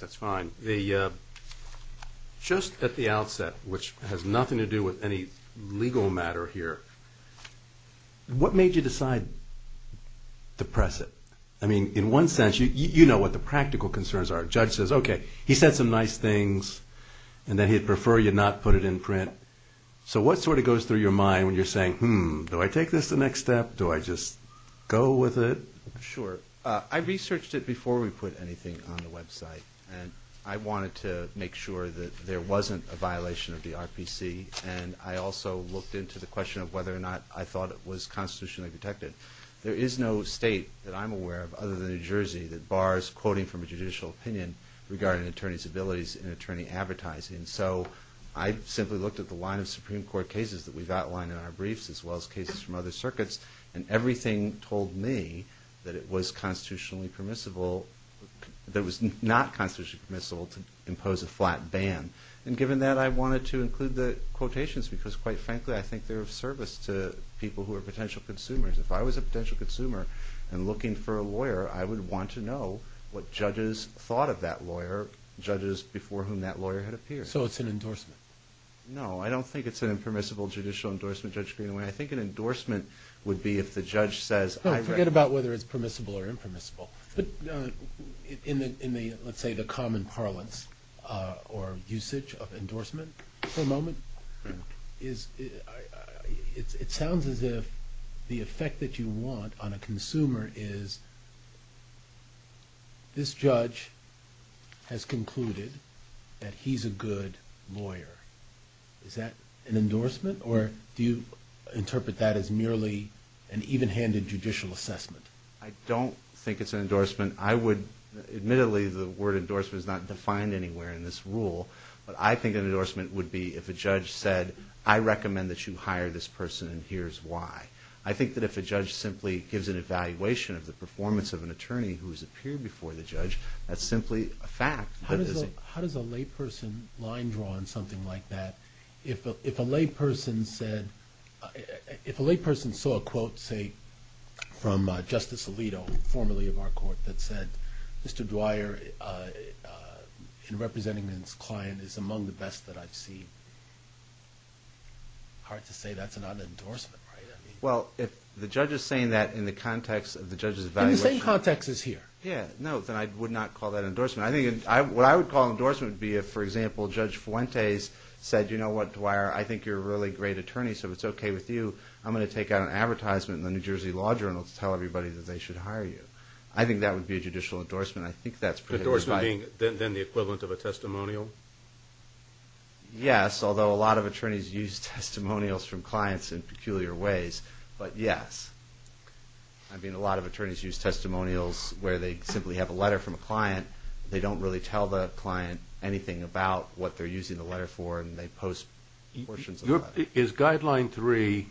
That's fine. Just at the outset, which has nothing to do with any legal matter here, what made you decide to press it? I mean, in one sense, you know what the practical concerns are. A judge says, okay, he said some nice things, and then he'd prefer you not put it in print. So what sort of goes through your mind when you're saying, hmm, do I take this the next step? Do I just go with it? Sure. I researched it before we put anything on the website, and I wanted to make sure that there wasn't a violation of the RPC, and I also looked into the question of whether or not I thought it was constitutionally protected. There is no state that I'm aware of other than New Jersey that bars quoting from a judicial opinion regarding an attorney's abilities in attorney advertising. So I simply looked at the line of Supreme Court cases that we've that it was constitutionally permissible, that it was not constitutionally permissible to impose a flat ban. And given that, I wanted to include the quotations because, quite frankly, I think they're of service to people who are potential consumers. If I was a potential consumer and looking for a lawyer, I would want to know what judges thought of that lawyer, judges before whom that lawyer had appeared. So it's an endorsement? No, I don't think it's an impermissible judicial endorsement, Judge Greenaway. I think an endorsement would be if the judge says, I recommend... No, forget about whether it's permissible or impermissible. In the, let's say, the common parlance or usage of endorsement for a moment, it sounds as if the effect that you want on a consumer is, this judge has concluded that he's a good lawyer. Is that an endorsement or do you interpret that as merely an even-handed judicial assessment? I don't think it's an endorsement. I would, admittedly, the word endorsement is not defined anywhere in this rule, but I think an endorsement would be if a judge said, I recommend that you hire this person and here's why. I think that if a judge simply gives an evaluation of the performance of an attorney who's appeared before the judge, that's simply a fact. How does a layperson line draw on something like that? If a layperson saw a quote, say, from Justice Alito, formerly of our court, that said, Mr. Dwyer, in representing his client, is among the best that I've seen, hard to say that's not an endorsement, right? Well, if the judge is saying that in the context of the judge's evaluation... In the same context as here. Yeah, no, then I would not call that an endorsement. I think what I would call an endorsement would be if, for example, Judge Fuentes said, you know what, Dwyer, I think you're a really great attorney, so if it's okay with you, I'm going to take out an advertisement in the New Jersey Law Journal to tell everybody that they should hire you. I think that would be a judicial endorsement. I think that's pretty much... Endorsement being then the equivalent of a testimonial? Yes, although a lot of attorneys use testimonials from clients in peculiar ways, but yes. I think attorneys use testimonials where they simply have a letter from a client, they don't really tell the client anything about what they're using the letter for, and they post portions of the letter. Is Guideline 3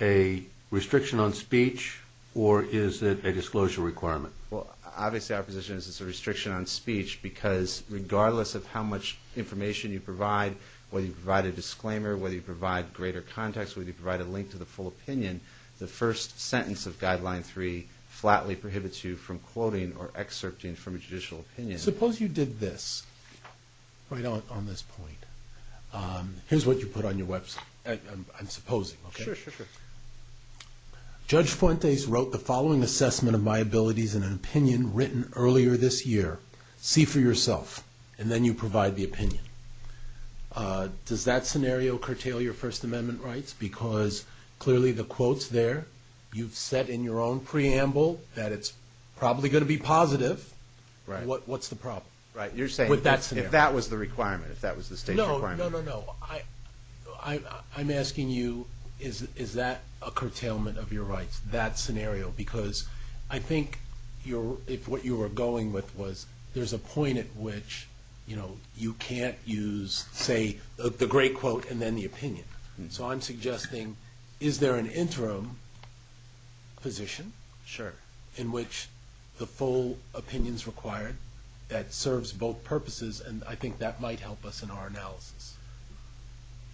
a restriction on speech, or is it a disclosure requirement? Well, obviously our position is it's a restriction on speech, because regardless of how much information you provide, whether you provide a disclaimer, whether you provide greater context, whether you provide a link to the full opinion, the first sentence of Guideline 3 flatly prohibits you from quoting or excerpting from a judicial opinion. Suppose you did this, right on this point. Here's what you put on your website, I'm supposing, okay? Sure, sure, sure. Judge Fuentes wrote the following assessment of my abilities in an opinion written earlier this year. See for yourself, and then you provide the opinion. Does that scenario curtail your First Amendment rights? Because clearly the quote's there, you've set in your own preamble that it's probably going to be positive. What's the problem with that scenario? Right, you're saying if that was the requirement, if that was the state's requirement? No, no, no. I'm asking you, is that a curtailment of your rights, that scenario? Because I think what you were going with was there's a point at which you can't use, say, the great quote and then the opinion. So I'm suggesting, is there an interim position in which the full opinion's required that serves both purposes, and I think that might help us in our analysis.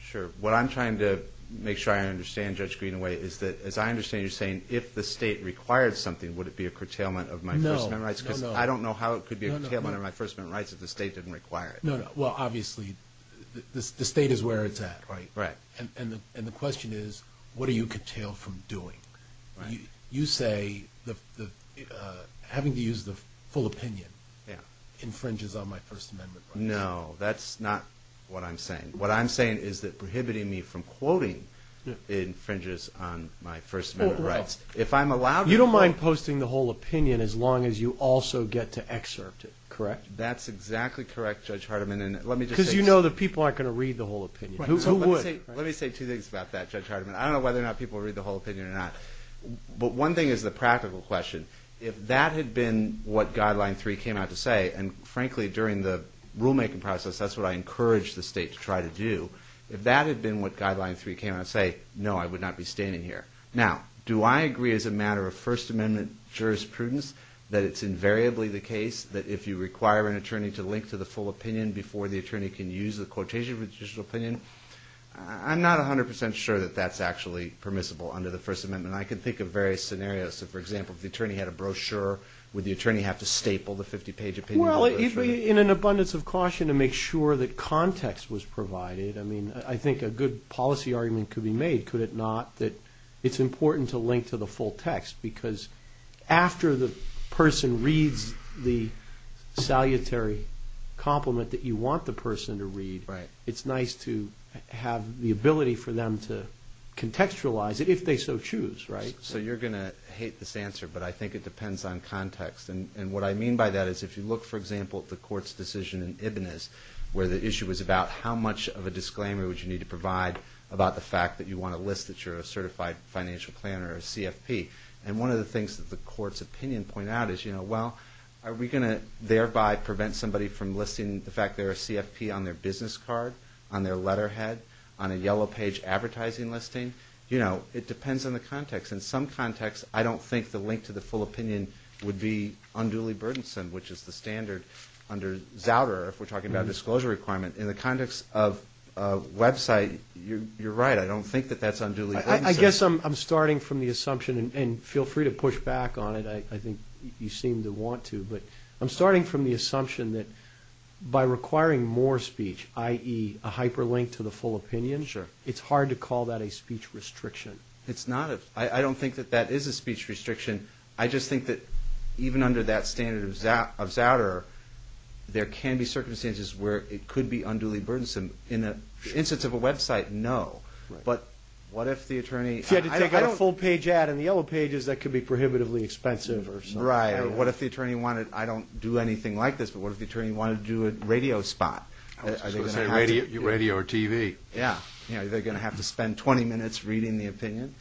Sure. What I'm trying to make sure I understand, Judge Greenaway, is that as I understand you're saying, if the state required something, would it be a curtailment of my First Amendment rights? Because I don't know how it could be a curtailment of my First Amendment rights if the state didn't require it. No, no. Well, obviously the state is where it's at, right? And the question is, what are you curtailed from doing? You say having to use the full opinion infringes on my First Amendment rights. No, that's not what I'm saying. What I'm saying is that prohibiting me from quoting infringes on my First Amendment rights. If I'm allowed to... You don't mind posting the whole opinion as long as you also get to excerpt it, correct? That's exactly correct, Judge Hardiman, and let me just say... Because you know that people aren't going to read the whole opinion. Who would? Let me say two things about that, Judge Hardiman. I don't know whether or not people will read the whole opinion or not, but one thing is the practical question. If that had been what Guideline 3 came out to say, and frankly, during the rulemaking process, that's what I encouraged the state to try to do. If that had been what Guideline 3 came out to say, no, I would not be standing here. Now, do I agree as a matter of First Amendment jurisprudence that it's invariably the case that if you require an attorney to link to the full opinion before the attorney can use the quotation for the judicial opinion? I'm not 100% sure that that's actually permissible under the First Amendment. I can think of various scenarios. So, for example, if the attorney had a brochure, would the attorney have to staple the 50-page opinion? Well, it would be in an abundance of caution to make sure that context was provided. I mean, I think a good policy argument could be made, could it not, that it's important to link to the full text, because after the person reads the salutary compliment that you want the person to read, it's nice to have the ability for them to contextualize it if they so choose, right? So you're going to hate this answer, but I think it depends on context. And what I mean by that is if you look, for example, at the Court's decision in Ibn Is, where the issue was about how much of a disclaimer would you need to provide about the fact that you want to list that you're a certified financial planner or a CFP. And one of the things that the Court's opinion pointed out is, well, are we going to thereby prevent somebody from listing the fact that they're a CFP on their business card, on their letterhead, on a yellow page advertising listing? It depends on the context. In some contexts, I don't think the link to the full opinion would be unduly burdensome, which is the standard under Zowder if we're talking about a disclosure requirement. In the context of a website, you're right. I don't think that that's unduly burdensome. I guess I'm starting from the assumption, and feel free to push back on it. I think you seem to want to. But I'm starting from the assumption that by requiring more speech, i.e. a hyperlink to the full opinion, it's hard to call that a speech restriction. It's not. I don't think that that is a speech restriction. I just think that even under that standard of Zowder, there can be circumstances where it could be unduly burdensome. In the instance of a website, no. But what if the attorney... If you had to take out a full page ad on the yellow pages, that could be prohibitively expensive or something. Right. Or what if the attorney wanted... I don't do anything like this, but what if the attorney wanted to do a radio spot? Are they going to have to... I was going to say radio or TV. Yeah. They're going to have to spend 20 minutes reading the opinion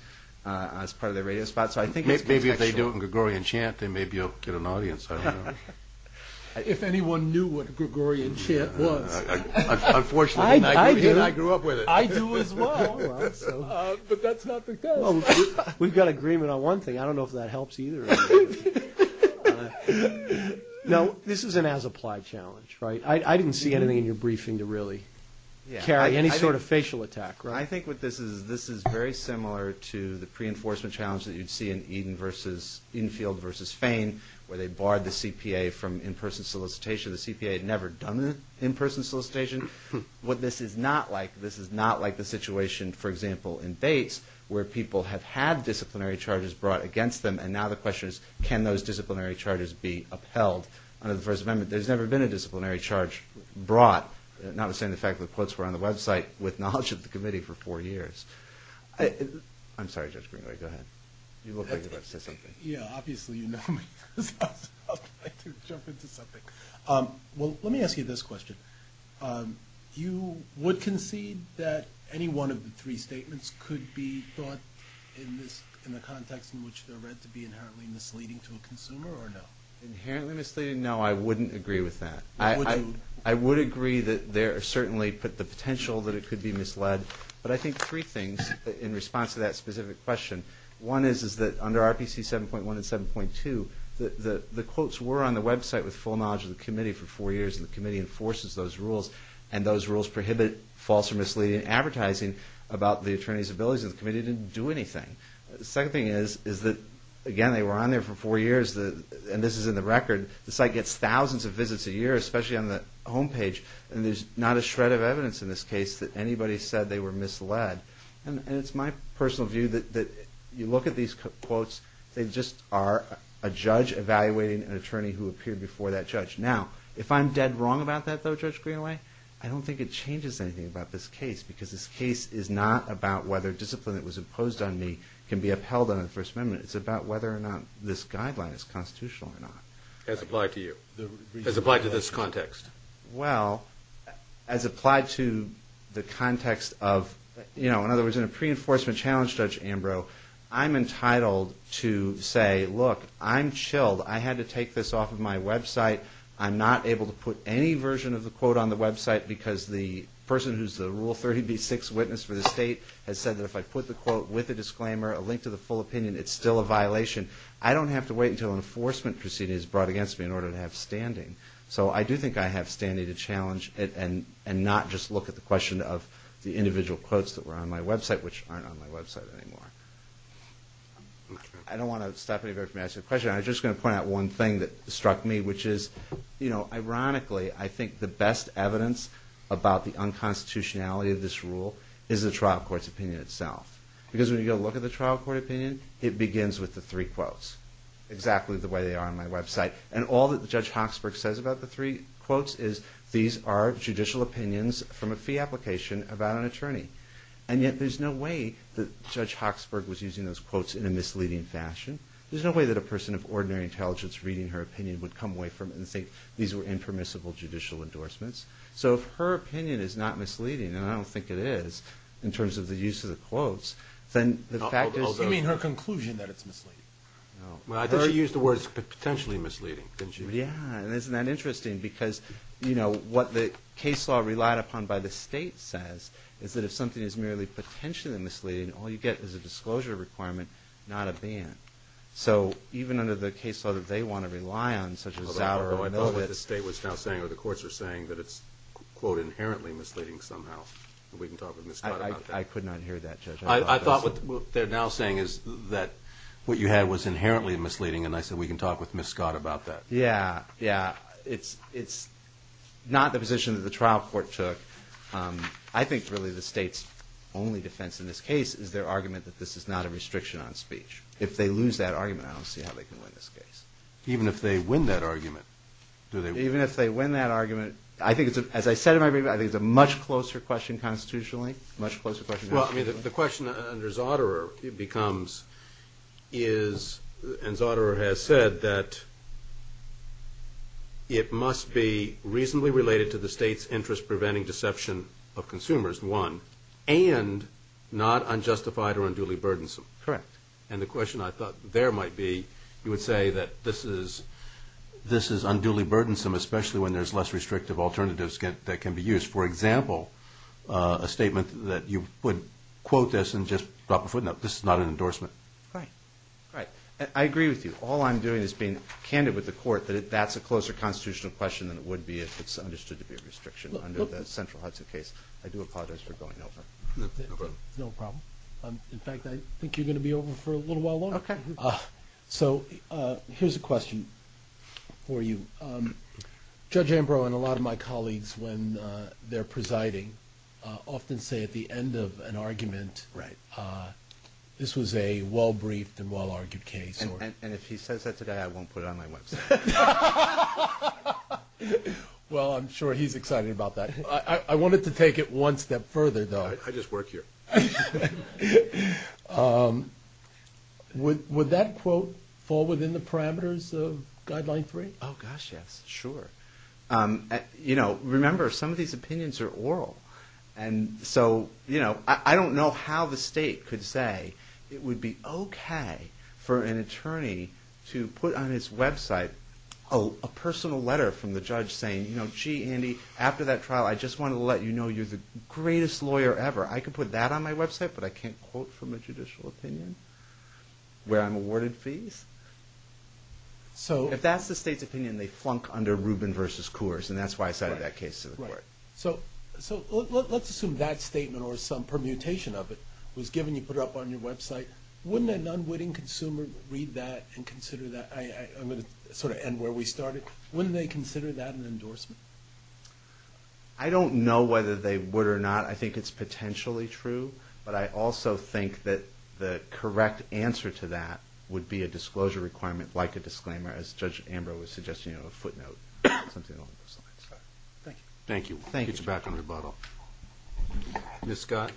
as part of their radio spot. So I think it's contextual. If they do it in Gregorian chant, they may be able to get an audience. I don't know. If anyone knew what Gregorian chant was. Unfortunately, I didn't. I grew up with it. I do as well, but that's not the case. We've got agreement on one thing. I don't know if that helps either. Now, this is an as-applied challenge, right? I didn't see anything in your briefing to really carry any sort of facial attack, right? I think what this is, this is very similar to the pre-enforcement challenge that you'd see in Eden versus, Enfield versus Fane, where they barred the CPA from in-person solicitation. The CPA had never done an in-person solicitation. What this is not like, this is not like the situation, for example, in Bates, where people have had disciplinary charges brought against them and now the question is, can those disciplinary charges be upheld under the First Amendment? There's never been a disciplinary charge brought, notwithstanding the fact that the quotes were on the website, with knowledge of the committee for four years. I'm sorry, Judge Greenway, go ahead. You look like you'd like to say something. Yeah, obviously you know me, because I was about to jump into something. Well, let me ask you this question. You would concede that any one of the three statements could be thought, in the context in which they're read, to be inherently misleading to a consumer, or no? Inherently misleading? No, I wouldn't agree with that. Would you? I would agree that there are certainly, but the potential that it could be misled. But I think three things, in response to that specific question. One is that under RPC 7.1 and 7.2, the quotes were on the website with full knowledge of the committee for four years, and the committee enforces those rules, and those rules prohibit false or misleading advertising about the attorney's abilities, and the committee didn't do anything. The second thing is that, again, they were on there for four years, and this is in the record, the site gets thousands of visits a year, especially on the homepage, and there's not a shred of evidence in this case that anybody said they were misled, and it's my personal view that you look at these quotes, they just are a judge evaluating an attorney who appeared before that judge. Now, if I'm dead wrong about that, though, Judge Greenaway, I don't think it changes anything about this case, because this case is not about whether discipline that was imposed on me can be upheld under the First Amendment. It's about whether or not this guideline is constitutional or not. As applied to you? As applied to this context? Well, as applied to the context of, you know, in other words, in a pre-enforcement challenge, Judge Ambrose, I'm entitled to say, look, I'm chilled. I had to take this off of my website. I'm not able to put any version of the quote on the website, because the person who's the Rule 30b-6 witness for the state has said that if I put the quote with a disclaimer, a link to the full opinion, it's still a violation. I don't have to wait until an enforcement proceeding is brought against me in order to have standing. So I do think I have standing to challenge it and not just look at the question of the individual quotes that were on my website, which aren't on my website anymore. I don't want to stop anybody from asking a question. I was just going to point out one thing that struck me, which is, you know, ironically, I think the best evidence about the unconstitutionality of this rule is the trial court's opinion itself. Because when you go look at the trial court opinion, it begins with the three quotes, exactly the way they are on my website. And all that Judge Hoxberg says about the three quotes is, these are judicial opinions from a fee application about an attorney. And yet there's no way that Judge Hoxberg was using those quotes in a misleading fashion. There's no way that a person of ordinary intelligence reading her opinion would come away from it and think these were impermissible judicial endorsements. So if her opinion is not misleading, and I don't think it is, in terms of the use of the quotes, then the fact is... But potentially misleading, didn't you? Yeah, and isn't that interesting? Because, you know, what the case law relied upon by the state says is that if something is merely potentially misleading, all you get is a disclosure requirement, not a ban. So even under the case law that they want to rely on, such as Zauer or Novitz... Although I know what the state was now saying, or the courts are saying, that it's, quote, inherently misleading somehow. We can talk with Ms. Scott about that. I could not hear that, Judge. I thought what they're now saying is that what you had was inherently misleading, and I said we can talk with Ms. Scott about that. Yeah, yeah. It's not the position that the trial court took. I think, really, the state's only defense in this case is their argument that this is not a restriction on speech. If they lose that argument, I don't see how they can win this case. Even if they win that argument, do they... Even if they win that argument, I think it's, as I said in my brief, I think it's a much closer question constitutionally, much closer question... Well, I mean, the question under Zauderer becomes, and Zauderer has said, that it must be reasonably related to the state's interest-preventing deception of consumers, one, and not unjustified or unduly burdensome. Correct. And the question I thought there might be, you would say that this is unduly burdensome, especially when there's less restrictive alternatives that can be used. For example, a statement that you would quote this and just drop a footnote. This is not an endorsement. Right. Right. I agree with you. All I'm doing is being candid with the court that that's a closer constitutional question than it would be if it's understood to be a restriction under the central HUDSA case. I do apologize for going over. No problem. No problem. In fact, I think you're going to be over for a little while longer. Okay. So here's a question for you. Judge Ambrose and a lot of my colleagues, when they're presiding, often say at the end of an argument, this was a well-briefed and well-argued case. And if he says that today, I won't put it on my website. Well, I'm sure he's excited about that. I wanted to take it one step further, though. I just work here. Would that quote fall within the parameters of Guideline 3? Oh, gosh, yes. Sure. You know, remember, some of these opinions are oral. And so, you know, I don't know how the state could say it would be okay for an attorney to put on his website a personal letter from the judge saying, you know, gee, Andy, after that trial, I just want to let you know you're the greatest lawyer ever. I could put that on my website, but I can't quote from a judicial opinion where I'm awarded fees? If that's the state's opinion, they flunk under Rubin v. Coors, and that's why I cited that case to the court. So let's assume that statement or some permutation of it was given. You put it up on your website. Wouldn't an unwitting consumer read that and consider that? I'm going to sort of end where we started. Wouldn't they consider that an endorsement? I don't know whether they would or not. I think it's potentially true. But I also think that the correct answer to that would be a disclosure requirement like a disclaimer, as Judge Ambrose was suggesting, you know, a footnote, something along those lines. Thank you. Thank you. I'll get you back on rebuttal. Ms. Scott?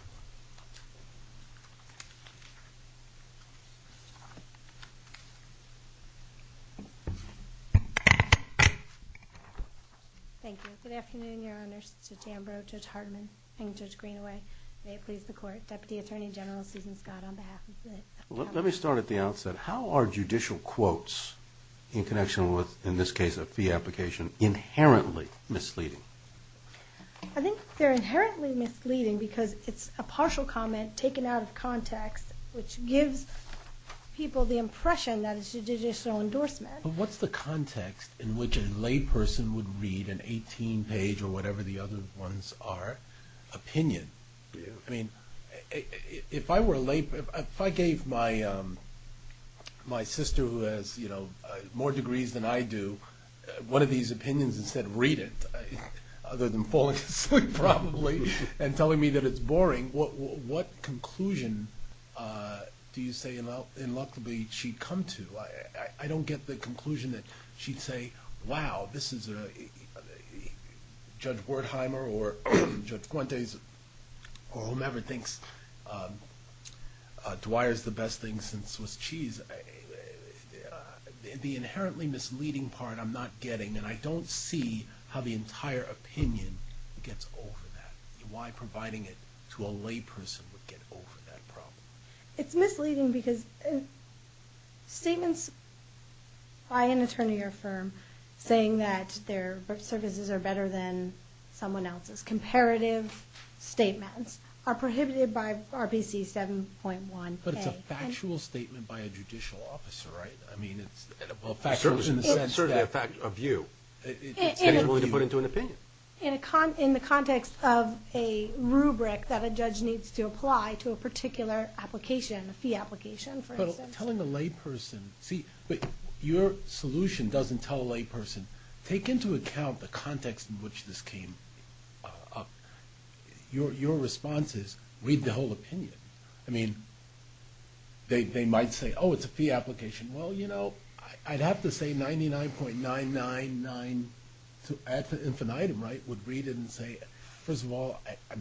Thank you. Good afternoon, Your Honors, Judge Ambrose, Judge Hartman, and Judge Greenaway. May it please the Court. Deputy Attorney General Susan Scott on behalf of the Academy. Let me start at the outset. How are judicial quotes in connection with, in this case, a fee application inherently misleading? I think they're inherently misleading because it's a partial comment taken out of context, which gives people the impression that it's a judicial endorsement. But what's the context in which a layperson would read an 18-page, or whatever the other ones are, opinion? I mean, if I were a layperson, if I gave my sister who has, you know, more degrees than I do, one of these opinions and said, read it, other than falling asleep probably and telling me that it's boring, what conclusion do you say, in luck, she'd come to? I don't get the conclusion that she'd say, wow, this is Judge Wertheimer or Judge Fuentes or whomever thinks Dwyer's the best thing since Swiss cheese. The inherently misleading part I'm not getting, and I don't see how the entire opinion gets over that. Why providing it to a layperson would get over that problem? It's misleading because statements by an attorney or firm saying that their services are better than someone else's, comparative statements, are prohibited by RPC 7.1a. But it's a factual statement by a judicial officer, right? I mean, it's certainly a view. It's tangible to put into an opinion. In the context of a rubric that a judge needs to apply to a particular application, a fee application, for instance. But telling a layperson, see, but your solution doesn't tell a layperson. Take into account the context in which this came up. Your response is, read the whole opinion. I mean, they might say, oh, it's a fee application. Well, you know, I'd have to say 99.999, infinitum, right? Would read it and say, first of all,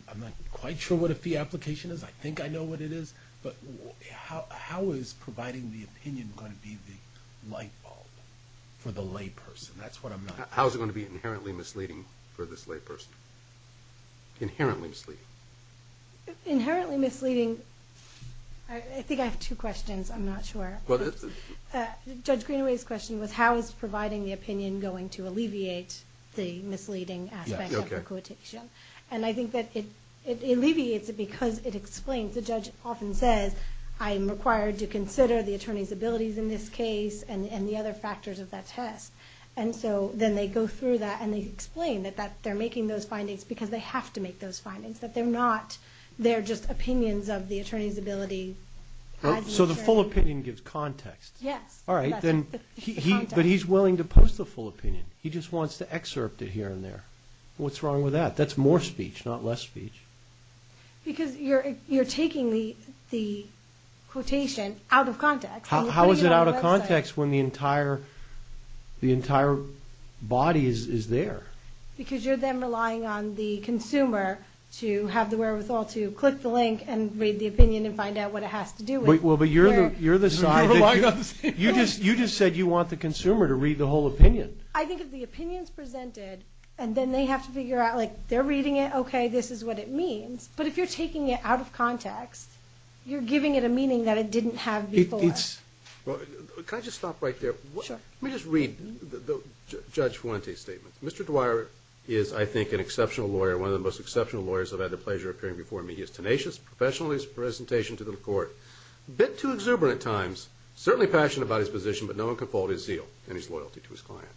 I'm not quite sure what a fee application is. I think I know what it is. But how is providing the opinion going to be the light bulb for the layperson? That's what I'm not sure. How is it going to be inherently misleading for this layperson? Inherently misleading. Inherently misleading, I think I have two questions. I'm not sure. Judge Greenaway's question was, how is providing the opinion going to alleviate the misleading aspect of the quotation? And I think that it alleviates it because it explains. The judge often says, I am required to consider the attorney's abilities in this case and the other factors of that test. And so then they go through that and they explain that they're making those findings because they have to make those findings. That they're not, they're just opinions of the attorney's ability. So the full opinion gives context. Yes. All right. But he's willing to post the full opinion. He just wants to excerpt it here and there. What's wrong with that? That's more speech, not less speech. Because you're taking the quotation out of context. How is it out of context when the entire body is there? Because you're then relying on the consumer to have the wherewithal to click the link and read the opinion and find out what it has to do with. Well, but you're the side that you just said you want the consumer to read the whole opinion. I think if the opinion's presented and then they have to figure out, like, they're reading it, okay, this is what it means. But if you're taking it out of context, you're giving it a meaning that it didn't have before. Can I just stop right there? Let me just read Judge Fuente's statement. Mr. Dwyer is, I think, an exceptional lawyer, one of the most exceptional lawyers I've had the pleasure of hearing before me. He is tenacious, professional in his presentation to the court, a bit too exuberant at times, certainly passionate about his position, but no one can fault his zeal and his loyalty to his client.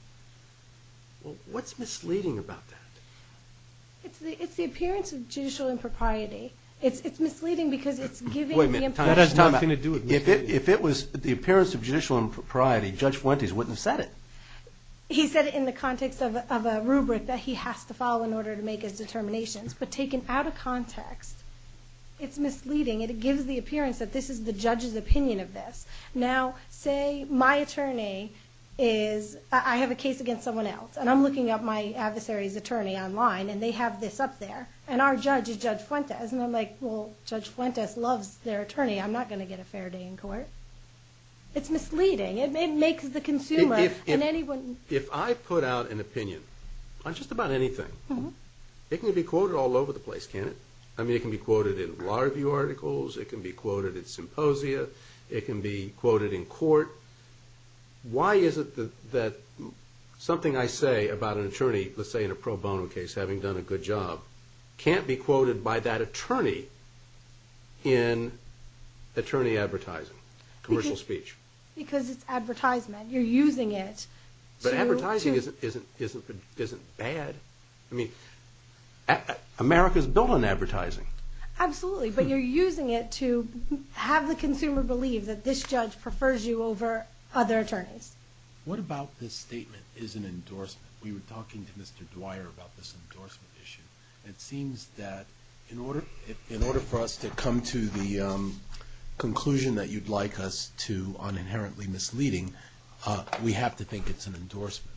Well, what's misleading about that? It's the appearance of judicial impropriety. It's misleading because it's giving the impression. That has nothing to do with misleading. If it was the appearance of judicial impropriety, Judge Fuente wouldn't have said it. He said it in the context of a rubric that he has to follow in order to make his determinations. But taken out of context, it's misleading. It gives the appearance that this is the judge's opinion of this. Now, say my attorney is, I have a case against someone else. And I'm looking up my adversary's attorney online, and they have this up there. And our judge is Judge Fuentes. And I'm like, well, Judge Fuentes loves their attorney. I'm not going to get a fair day in court. It's misleading. It makes the consumer and anyone. If I put out an opinion on just about anything, it can be quoted all over the place, can't it? I mean, it can be quoted in law review articles. It can be quoted in symposia. It can be quoted in court. Why is it that something I say about an attorney, let's say in a pro bono case, having done a good job, can't be quoted by that attorney in attorney advertising, commercial speech? Because it's advertisement. You're using it. But advertising isn't bad. I mean, America is built on advertising. Absolutely. But you're using it to have the consumer believe that this judge prefers you over other attorneys. What about this statement is an endorsement? We were talking to Mr. Dwyer about this endorsement issue. It seems that in order for us to come to the conclusion that you'd like us to on inherently misleading, we have to think it's an endorsement.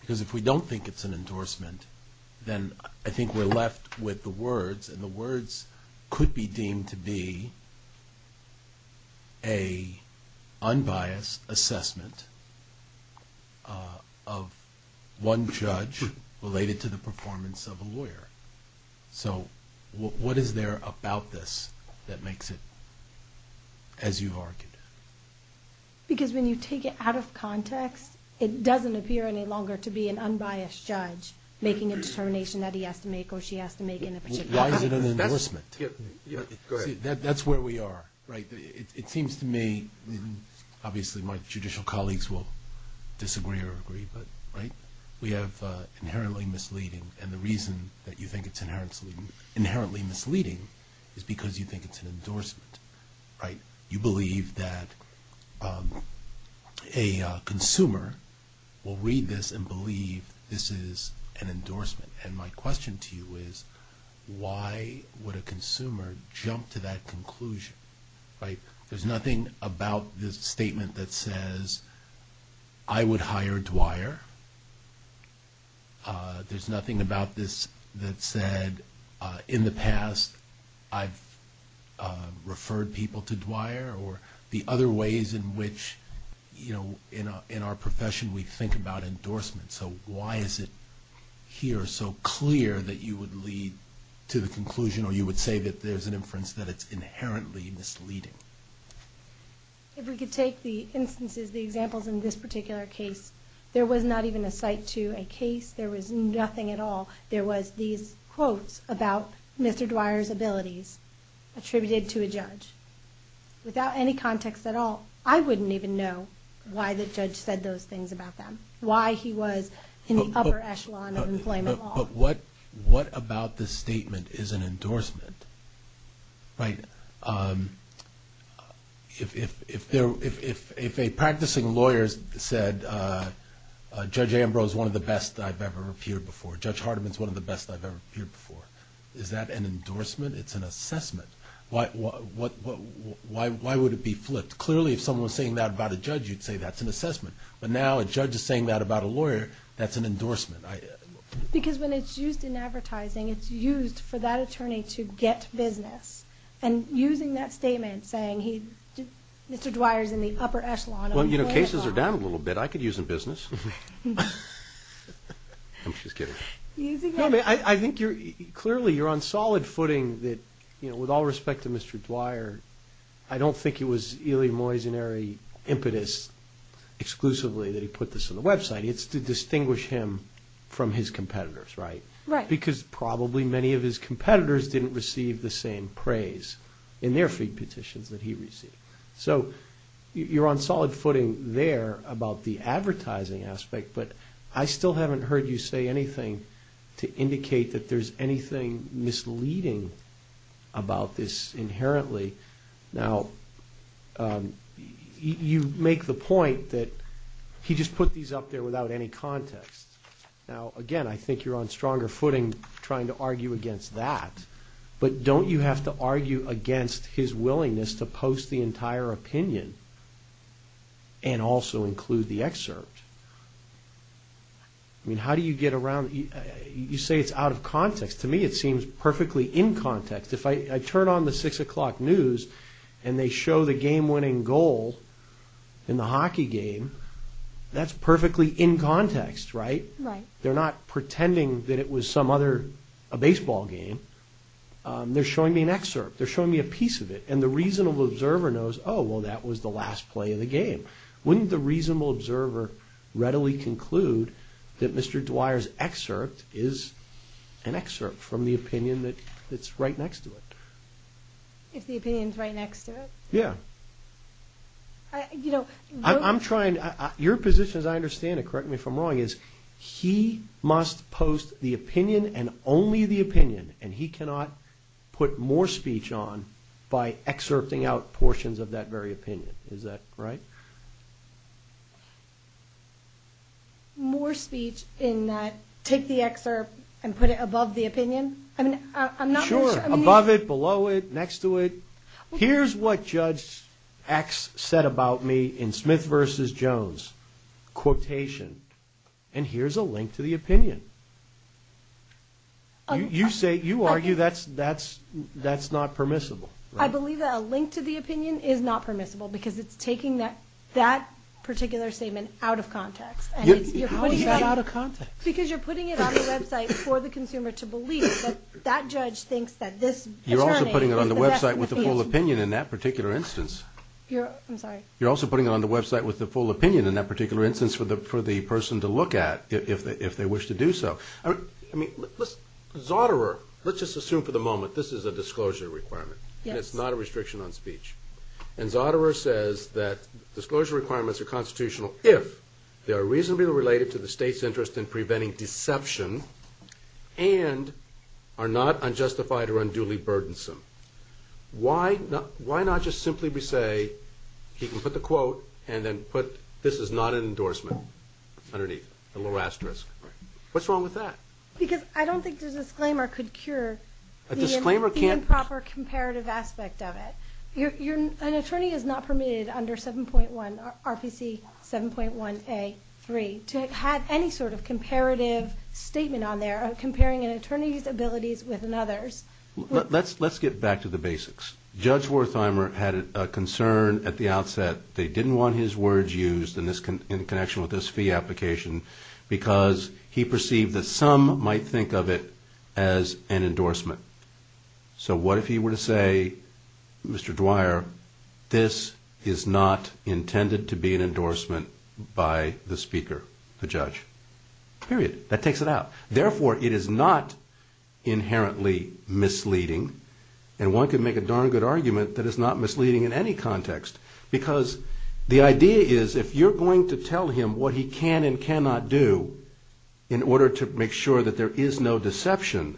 Because if we don't think it's an endorsement, then I think we're left with the words, and the words could be deemed to be a unbiased assessment of one judge related to the performance of a lawyer. So what is there about this that makes it as you've argued? Because when you take it out of context, it doesn't appear any longer to be an unbiased judge making a determination that he has to make or she has to make in a particular way. Why is it an endorsement? That's where we are. It seems to me, obviously my judicial colleagues will disagree or agree, but we have inherently misleading. And the reason that you think it's inherently misleading is because you think it's an endorsement. You believe that a consumer will read this and believe this is an endorsement. And my question to you is, why would a consumer jump to that conclusion? There's nothing about this statement that says, I would hire Dwyer. There's nothing about this that said, in the past, I've referred people to Dwyer, or the other ways in which in our profession we think about endorsements. So why is it here so clear that you would lead to the conclusion or you would say that there's an inference that it's inherently misleading? If we could take the instances, the examples in this particular case, there was not even a cite to a case. There was nothing at all. There was these quotes about Mr. Dwyer's abilities attributed to a judge. Without any context at all, I wouldn't even know why the judge said those things about them, why he was in the upper echelon of employment law. But what about this statement is an endorsement, right? If a practicing lawyer said, Judge Ambrose is one of the best I've ever appeared before, Judge Hardiman is one of the best I've ever appeared before, is that an endorsement? It's an assessment. Why would it be flipped? Clearly, if someone was saying that about a judge, you'd say that's an assessment. But now a judge is saying that about a lawyer, that's an endorsement. Because when it's used in advertising, it's used for that attorney to get business. And using that statement, saying Mr. Dwyer's in the upper echelon of employment law. Well, you know, cases are down a little bit. I could use them in business. I'm just kidding. I think clearly you're on solid footing that with all respect to Mr. Dwyer, I don't think it was ily moisonary impetus exclusively that he put this on the website. It's to distinguish him from his competitors, right? Because probably many of his competitors didn't receive the same praise in their feed petitions that he received. So you're on solid footing there about the advertising aspect, but I still haven't heard you say anything to indicate that there's anything misleading about this inherently. Now, you make the point that he just put these up there without any context. Now, again, I think you're on stronger footing trying to argue against that. But don't you have to argue against his willingness to post the entire opinion and also include the excerpt? I mean, how do you get around? You say it's out of context. To me, it seems perfectly in context. If I turn on the 6 o'clock news and they show the game-winning goal in the hockey game, that's perfectly in context, right? They're not pretending that it was some other baseball game. They're showing me an excerpt. They're showing me a piece of it. And the reasonable observer knows, oh, well, that was the last play of the game. Wouldn't the reasonable observer readily conclude that Mr. Dwyer's excerpt is an excerpt from the opinion that's right next to it? If the opinion's right next to it? Yeah. I'm trying to – your position, as I understand it, correct me if I'm wrong, is he must post the opinion and only the opinion, and he cannot put more speech on by excerpting out portions of that very opinion. Is that right? More speech in that take the excerpt and put it above the opinion? Sure, above it, below it, next to it. Here's what Judge X said about me in Smith v. Jones quotation, and here's a link to the opinion. You argue that's not permissible. I believe that a link to the opinion is not permissible because it's taking that particular statement out of context. How is that out of context? Because you're putting it on the website for the consumer to believe that that judge thinks that this attorney You're also putting it on the website with the full opinion in that particular instance. I'm sorry? You're also putting it on the website with the full opinion in that particular instance for the person to look at if they wish to do so. Zotterer, let's just assume for the moment this is a disclosure requirement. Yes. And it's not a restriction on speech. And Zotterer says that disclosure requirements are constitutional if they are reasonably related to the state's interest in preventing deception and are not unjustified or unduly burdensome. Why not just simply say he can put the quote and then put this is not an endorsement underneath, a little asterisk. What's wrong with that? Because I don't think the disclaimer could cure the improper comparative aspect of it. An attorney is not permitted under RPC 7.1A.3 to have any sort of comparative statement on there comparing an attorney's abilities with another's. Let's get back to the basics. Judge Wertheimer had a concern at the outset. They didn't want his words used in connection with this fee application because he perceived that some might think of it as an endorsement. So what if he were to say, Mr. Dwyer, this is not intended to be an endorsement by the speaker, the judge. Period. That takes it out. Therefore, it is not inherently misleading, and one could make a darn good argument that it's not misleading in any context because the idea is if you're going to tell him what he can and cannot do in order to make sure that there is no deception,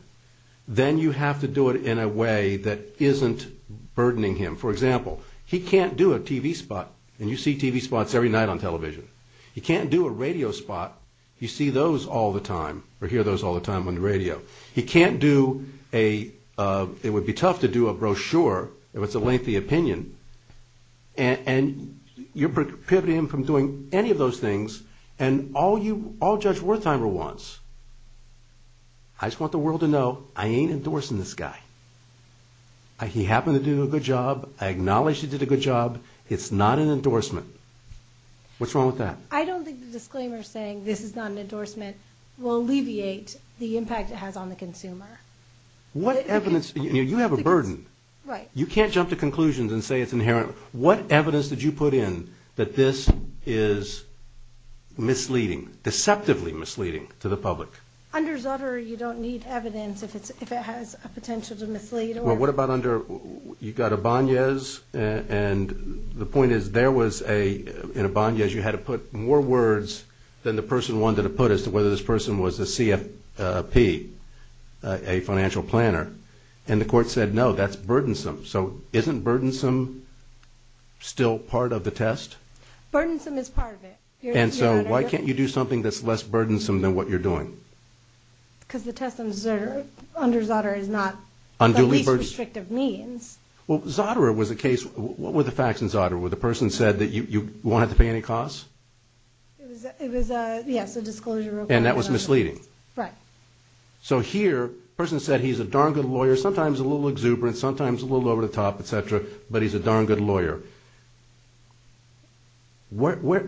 then you have to do it in a way that isn't burdening him. For example, he can't do a TV spot, and you see TV spots every night on television. He can't do a radio spot. You see those all the time or hear those all the time on the radio. He can't do a, it would be tough to do a brochure if it's a lengthy opinion, and you're prohibiting him from doing any of those things, and all Judge Wertheimer wants, I just want the world to know I ain't endorsing this guy. He happened to do a good job. I acknowledge he did a good job. It's not an endorsement. What's wrong with that? I don't think the disclaimer saying this is not an endorsement will alleviate the impact it has on the consumer. What evidence? You have a burden. Right. You can't jump to conclusions and say it's inherent. What evidence did you put in that this is misleading, deceptively misleading to the public? Under Zutter you don't need evidence if it has a potential to mislead. Well, what about under, you've got a Báñez, and the point is there was a, in a Báñez you had to put more words than the person wanted to put as to whether this person was a CFP, a financial planner, and the court said no, that's burdensome. So isn't burdensome still part of the test? Burdensome is part of it. And so why can't you do something that's less burdensome than what you're doing? Because the test under Zutter is not the least restrictive means. Well, Zutter was a case, what were the facts in Zutter? Where the person said that you won't have to pay any costs? It was a, yes, a disclosure. And that was misleading? Right. So here, the person said he's a darn good lawyer, sometimes a little exuberant, sometimes a little over the top, et cetera, but he's a darn good lawyer. What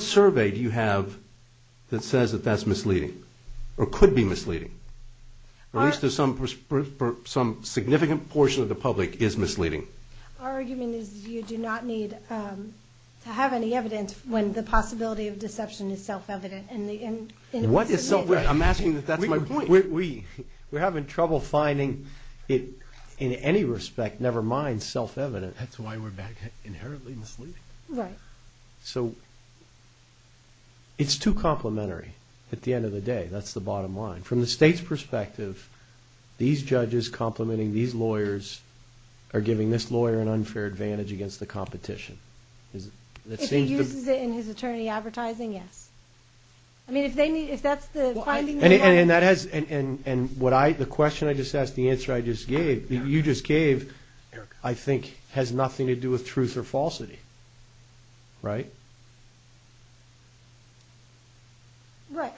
survey do you have that says that that's misleading, or could be misleading? Or at least some significant portion of the public is misleading? Our argument is you do not need to have any evidence when the possibility of deception is self-evident. What is self-evident? I'm asking that that's my point. We're having trouble finding it in any respect, never mind self-evident. That's why we're back here, inherently misleading. Right. So it's too complementary at the end of the day. That's the bottom line. From the state's perspective, these judges complimenting these lawyers are giving this lawyer an unfair advantage against the competition. If he uses it in his attorney advertising, yes. I mean, if that's the finding they want. And the question I just asked, the answer you just gave, I think, has nothing to do with truth or falsity, right? Right.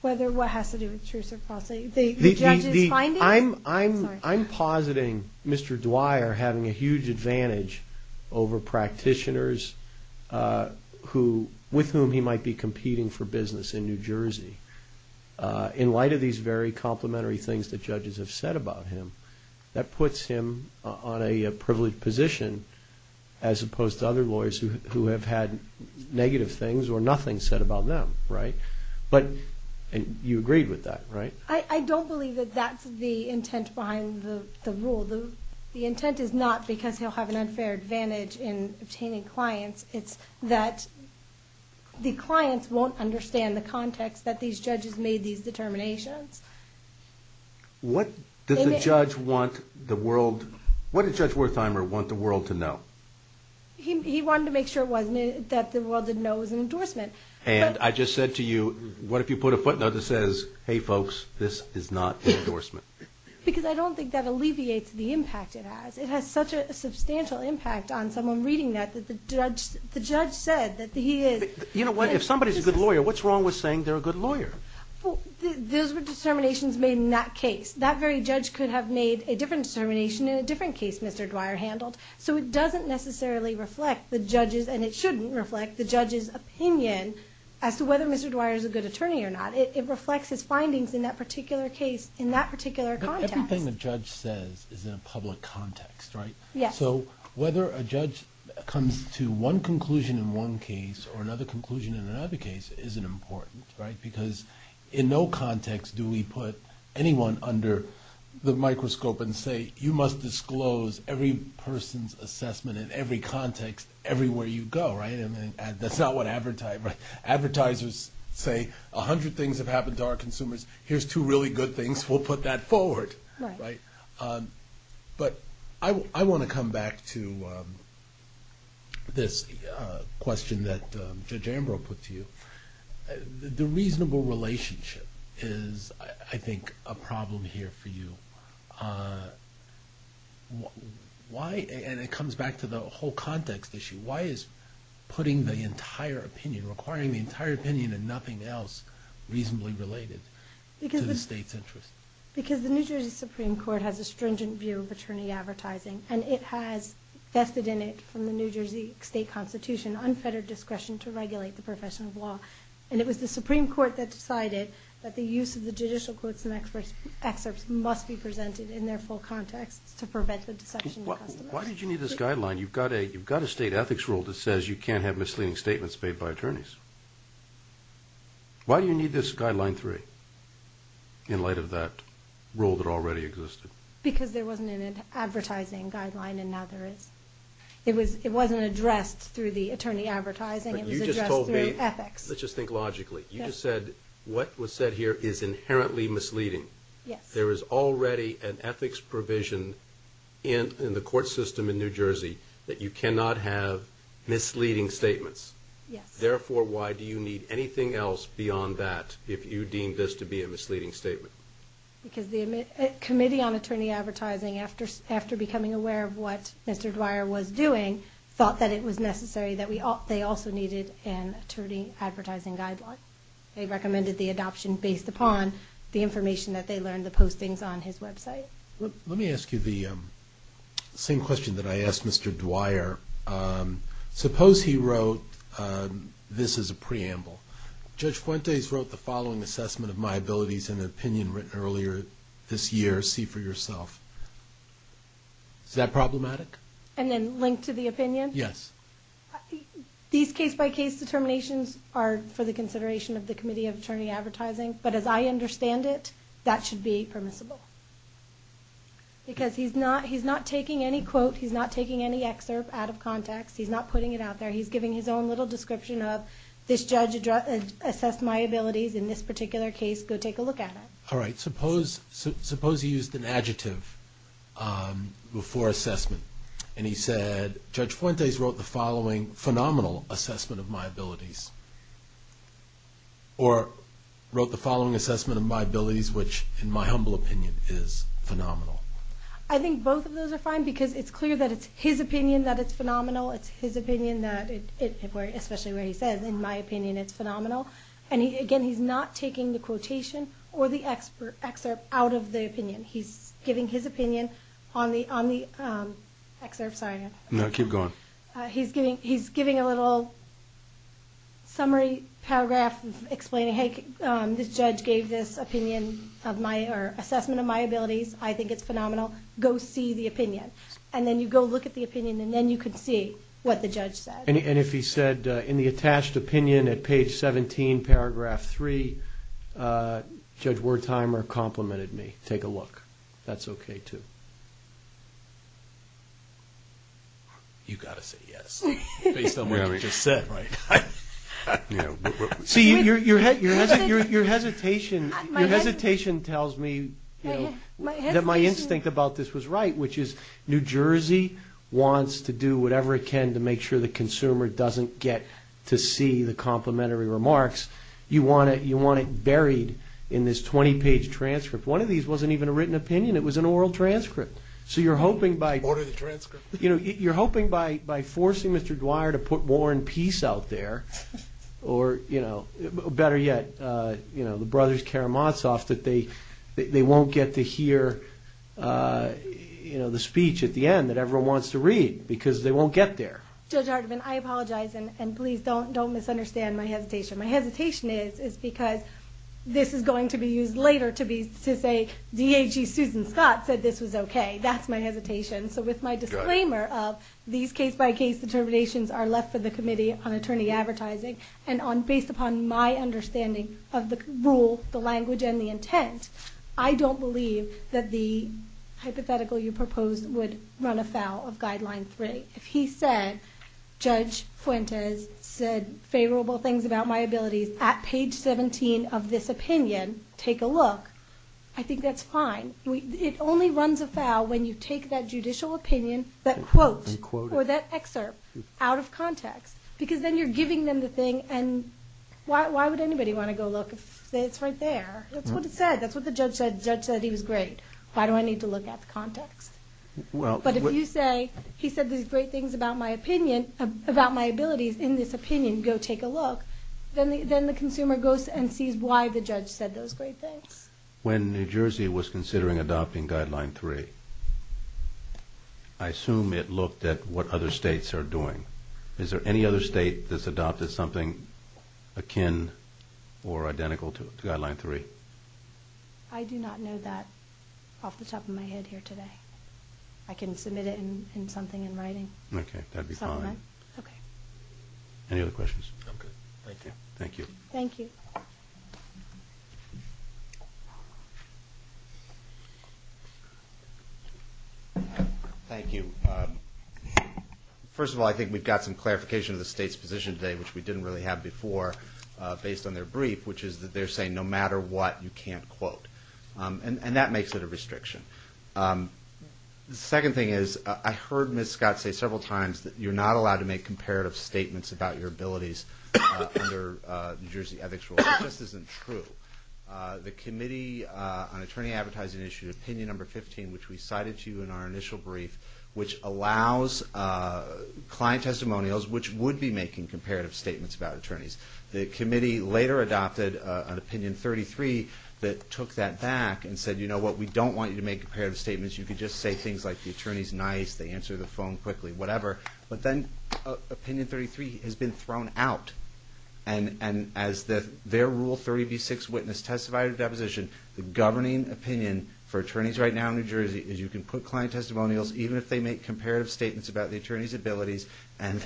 Whether what has to do with truth or falsity. The judge's finding? I'm positing Mr. Dwyer having a huge advantage over practitioners with whom he might be competing for business in New Jersey. In light of these very complementary things that judges have said about him, that puts him on a privileged position, as opposed to other lawyers who have had negative things or nothing said about them, right? And you agreed with that, right? I don't believe that that's the intent behind the rule. The intent is not because he'll have an unfair advantage in obtaining clients. It's that the clients won't understand the context that these judges made these determinations. What did Judge Wertheimer want the world to know? He wanted to make sure that the world didn't know it was an endorsement. And I just said to you, what if you put a footnote that says, hey folks, this is not an endorsement? Because I don't think that alleviates the impact it has. It has such a substantial impact on someone reading that, that the judge said that he is. You know what, if somebody's a good lawyer, what's wrong with saying they're a good lawyer? Those were determinations made in that case. That very judge could have made a different determination in a different case Mr. Dwyer handled. So it doesn't necessarily reflect the judge's, and it shouldn't reflect the judge's opinion as to whether Mr. Dwyer is a good attorney or not. It reflects his findings in that particular case, in that particular context. Everything a judge says is in a public context, right? Yes. So whether a judge comes to one conclusion in one case or another conclusion in another case isn't important, right? Because in no context do we put anyone under the microscope and say you must disclose every person's assessment in every context everywhere you go, right? That's not what advertisers say. A hundred things have happened to our consumers. Here's two really good things. We'll put that forward, right? But I want to come back to this question that Judge Ambrose put to you. The reasonable relationship is, I think, a problem here for you. Why, and it comes back to the whole context issue, why is putting the entire opinion, requiring the entire opinion and nothing else reasonably related to the state's interest? Because the New Jersey Supreme Court has a stringent view of attorney advertising, and it has vested in it from the New Jersey State Constitution unfettered discretion to regulate the profession of law. And it was the Supreme Court that decided that the use of the judicial quotes and excerpts must be presented in their full context to prevent the deception of customers. Why did you need this guideline? You've got a state ethics rule that says you can't have misleading statements made by attorneys. Why do you need this guideline three in light of that rule that already existed? Because there wasn't an advertising guideline, and now there is. It wasn't addressed through the attorney advertising. It was addressed through ethics. Let's just think logically. You just said what was said here is inherently misleading. Yes. There is already an ethics provision in the court system in New Jersey that you cannot have misleading statements. Yes. Therefore, why do you need anything else beyond that if you deem this to be a misleading statement? Because the Committee on Attorney Advertising, after becoming aware of what Mr. Dwyer was doing, thought that it was necessary that they also needed an attorney advertising guideline. They recommended the adoption based upon the information that they learned, the postings on his website. Let me ask you the same question that I asked Mr. Dwyer. Suppose he wrote this as a preamble. Judge Fuentes wrote the following assessment of my abilities in an opinion written earlier this year, see for yourself. Is that problematic? And then linked to the opinion? Yes. These case-by-case determinations are for the consideration of the Committee of Attorney Advertising, but as I understand it, that should be permissible. Because he's not taking any quote, he's not taking any excerpt out of context. He's not putting it out there. He's giving his own little description of, this judge assessed my abilities in this particular case. Go take a look at it. All right. Suppose he used an adjective before assessment, and he said, Judge Fuentes wrote the following phenomenal assessment of my abilities. Or wrote the following assessment of my abilities, which in my humble opinion is phenomenal. I think both of those are fine, because it's clear that it's his opinion that it's phenomenal. It's his opinion that, especially where he says, in my opinion it's phenomenal. Again, he's not taking the quotation or the excerpt out of the opinion. He's giving his opinion on the excerpt. No, keep going. He's giving a little summary paragraph explaining, hey, this judge gave this assessment of my abilities. I think it's phenomenal. Go see the opinion. And then you go look at the opinion, and then you can see what the judge said. And if he said, in the attached opinion at page 17, paragraph 3, Judge Wertheimer complimented me. Take a look. That's okay, too. You've got to say yes, based on what you just said. See, your hesitation tells me that my instinct about this was right, which is New Jersey wants to do whatever it can to make sure the consumer doesn't get to see the complimentary remarks. You want it buried in this 20-page transcript. One of these wasn't even a written opinion. It was an oral transcript. So you're hoping by forcing Mr. Dwyer to put war and peace out there, or better yet, the brothers Karamazov, that they won't get to hear the speech at the end that everyone wants to read, because they won't get there. Judge Hardiman, I apologize, and please don't misunderstand my hesitation. My hesitation is because this is going to be used later to say, D.H.E. Susan Scott said this was okay. That's my hesitation. So with my disclaimer of these case-by-case determinations are left for the based upon my understanding of the rule, the language, and the intent, I don't believe that the hypothetical you proposed would run afoul of Guideline 3. If he said, Judge Fuentes said favorable things about my abilities at page 17 of this opinion, take a look, I think that's fine. It only runs afoul when you take that judicial opinion, that quote, or that excerpt out of context, because then you're giving them the thing, and why would anybody want to go look if it's right there? That's what it said. That's what the judge said. The judge said he was great. Why do I need to look at the context? But if you say, he said these great things about my opinion, about my abilities in this opinion, go take a look, then the consumer goes and sees why the judge said those great things. When New Jersey was considering adopting Guideline 3, I assume it looked at what other states are doing. Is there any other state that's adopted something akin or identical to Guideline 3? I do not know that off the top of my head here today. I can submit it in something in writing. Okay, that would be fine. Okay. Any other questions? I'm good. Thank you. Thank you. Thank you. Thank you. First of all, I think we've got some clarification of the state's position today, which we didn't really have before, based on their brief, which is that they're saying no matter what, you can't quote. And that makes it a restriction. The second thing is, I heard Ms. Scott say several times that you're not allowed to make comparative statements about your abilities under New Jersey ethics rules. It just isn't true. The committee on attorney advertising issued Opinion No. 15, which we cited to you in our initial brief, which allows client testimonials which would be making comparative statements about attorneys. The committee later adopted an Opinion 33 that took that back and said, you know what, we don't want you to make comparative statements. You can just say things like the attorney's nice, they answer the phone quickly, whatever. But then Opinion 33 has been thrown out. And as their Rule 30b-6 witness testified at a deposition, the governing opinion for attorneys right now in New Jersey is you can put client testimonials, even if they make comparative statements about the attorney's abilities, and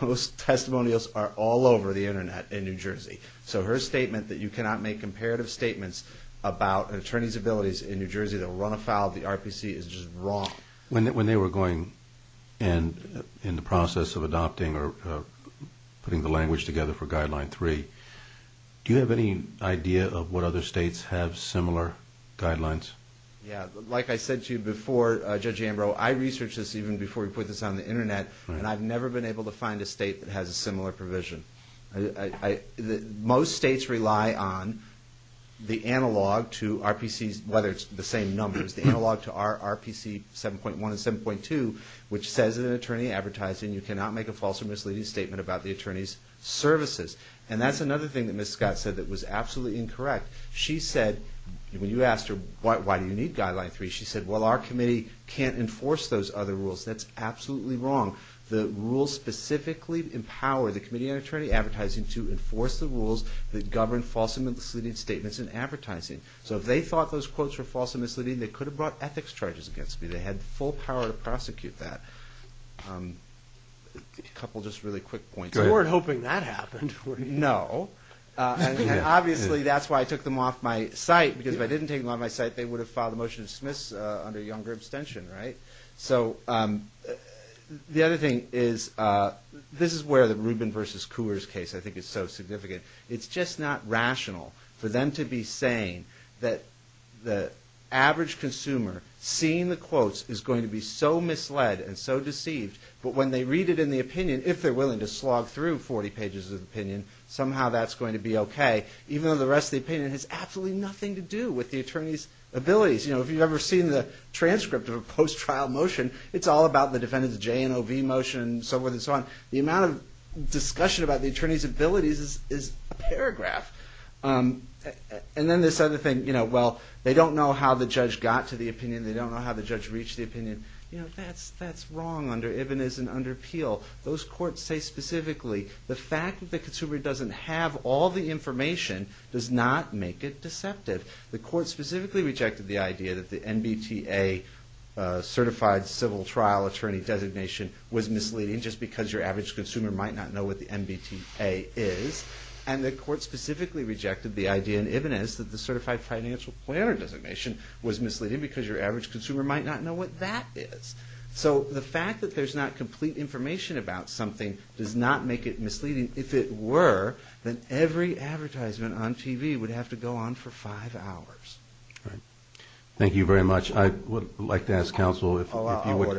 those testimonials are all over the Internet in New Jersey. So her statement that you cannot make comparative statements about an attorney's abilities in New Jersey that will run afoul of the RPC is just wrong. When they were going in the process of adopting or putting the language together for Guideline 3, do you have any idea of what other states have similar guidelines? Yeah, like I said to you before, Judge Ambrose, I researched this even before we put this on the Internet, and I've never been able to find a state that has a similar provision. Most states rely on the analog to RPCs, whether it's the same numbers, the analog to RPC 7.1 and 7.2, which says in an attorney advertising you cannot make a false or misleading statement about the attorney's services. And that's another thing that Ms. Scott said that was absolutely incorrect. She said, when you asked her why do you need Guideline 3, she said, well, our committee can't enforce those other rules. That's absolutely wrong. The rules specifically empower the Committee on Attorney Advertising to enforce the rules that govern false and misleading statements in advertising. So if they thought those quotes were false and misleading, they could have brought ethics charges against me. They had full power to prosecute that. A couple just really quick points. You weren't hoping that happened, were you? No. And obviously that's why I took them off my site, because if I didn't take them off my site, they would have filed a motion to dismiss under a younger abstention, right? So the other thing is, this is where the Rubin v. Coors case I think is so significant. It's just not rational for them to be saying that the average consumer seeing the quotes is going to be so misled and so deceived, but when they read it in the opinion, if they're willing to slog through 40 pages of the opinion, somehow that's going to be okay, even though the rest of the opinion has absolutely nothing to do with the attorney's abilities. You know, if you've ever seen the transcript of a post-trial motion, it's all about the defendant's J&OV motion and so forth and so on. The amount of discussion about the attorney's abilities is a paragraph. And then this other thing, you know, well, they don't know how the judge got to the opinion, they don't know how the judge reached the opinion. You know, that's wrong under Ibn Izz and under Peel. Those courts say specifically, the fact that the consumer doesn't have all the information does not make it deceptive. The court specifically rejected the idea that the NBTA certified civil trial attorney designation was misleading just because your average consumer might not know what the NBTA is. And the court specifically rejected the idea in Ibn Izz that the certified financial planner designation was misleading because your average consumer might not know what that is. So the fact that there's not complete information about something does not make it misleading. If it were, then every advertisement on TV would have to go on for five hours. Thank you very much. I would like to ask counsel if you would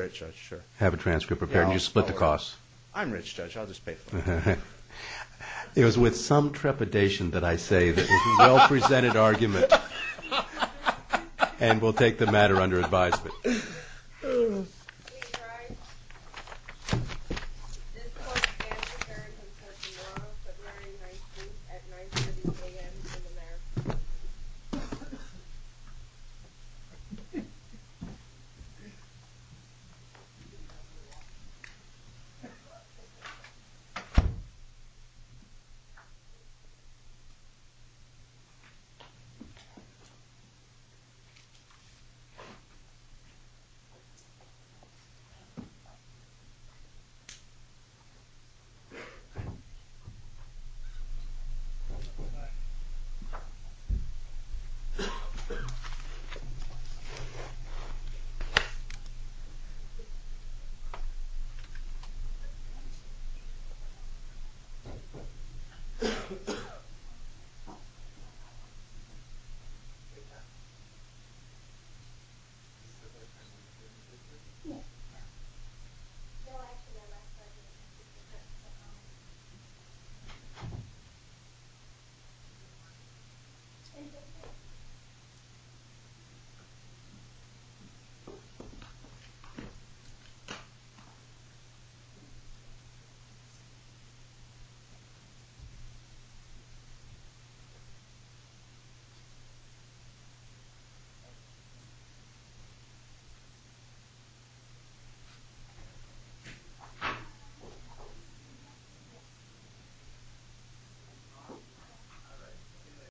have a transcript prepared. And you split the cost. I'm rich, Judge, I'll just pay for it. It was with some trepidation that I say this is a well-presented argument. And we'll take the matter under advisement. Thank you.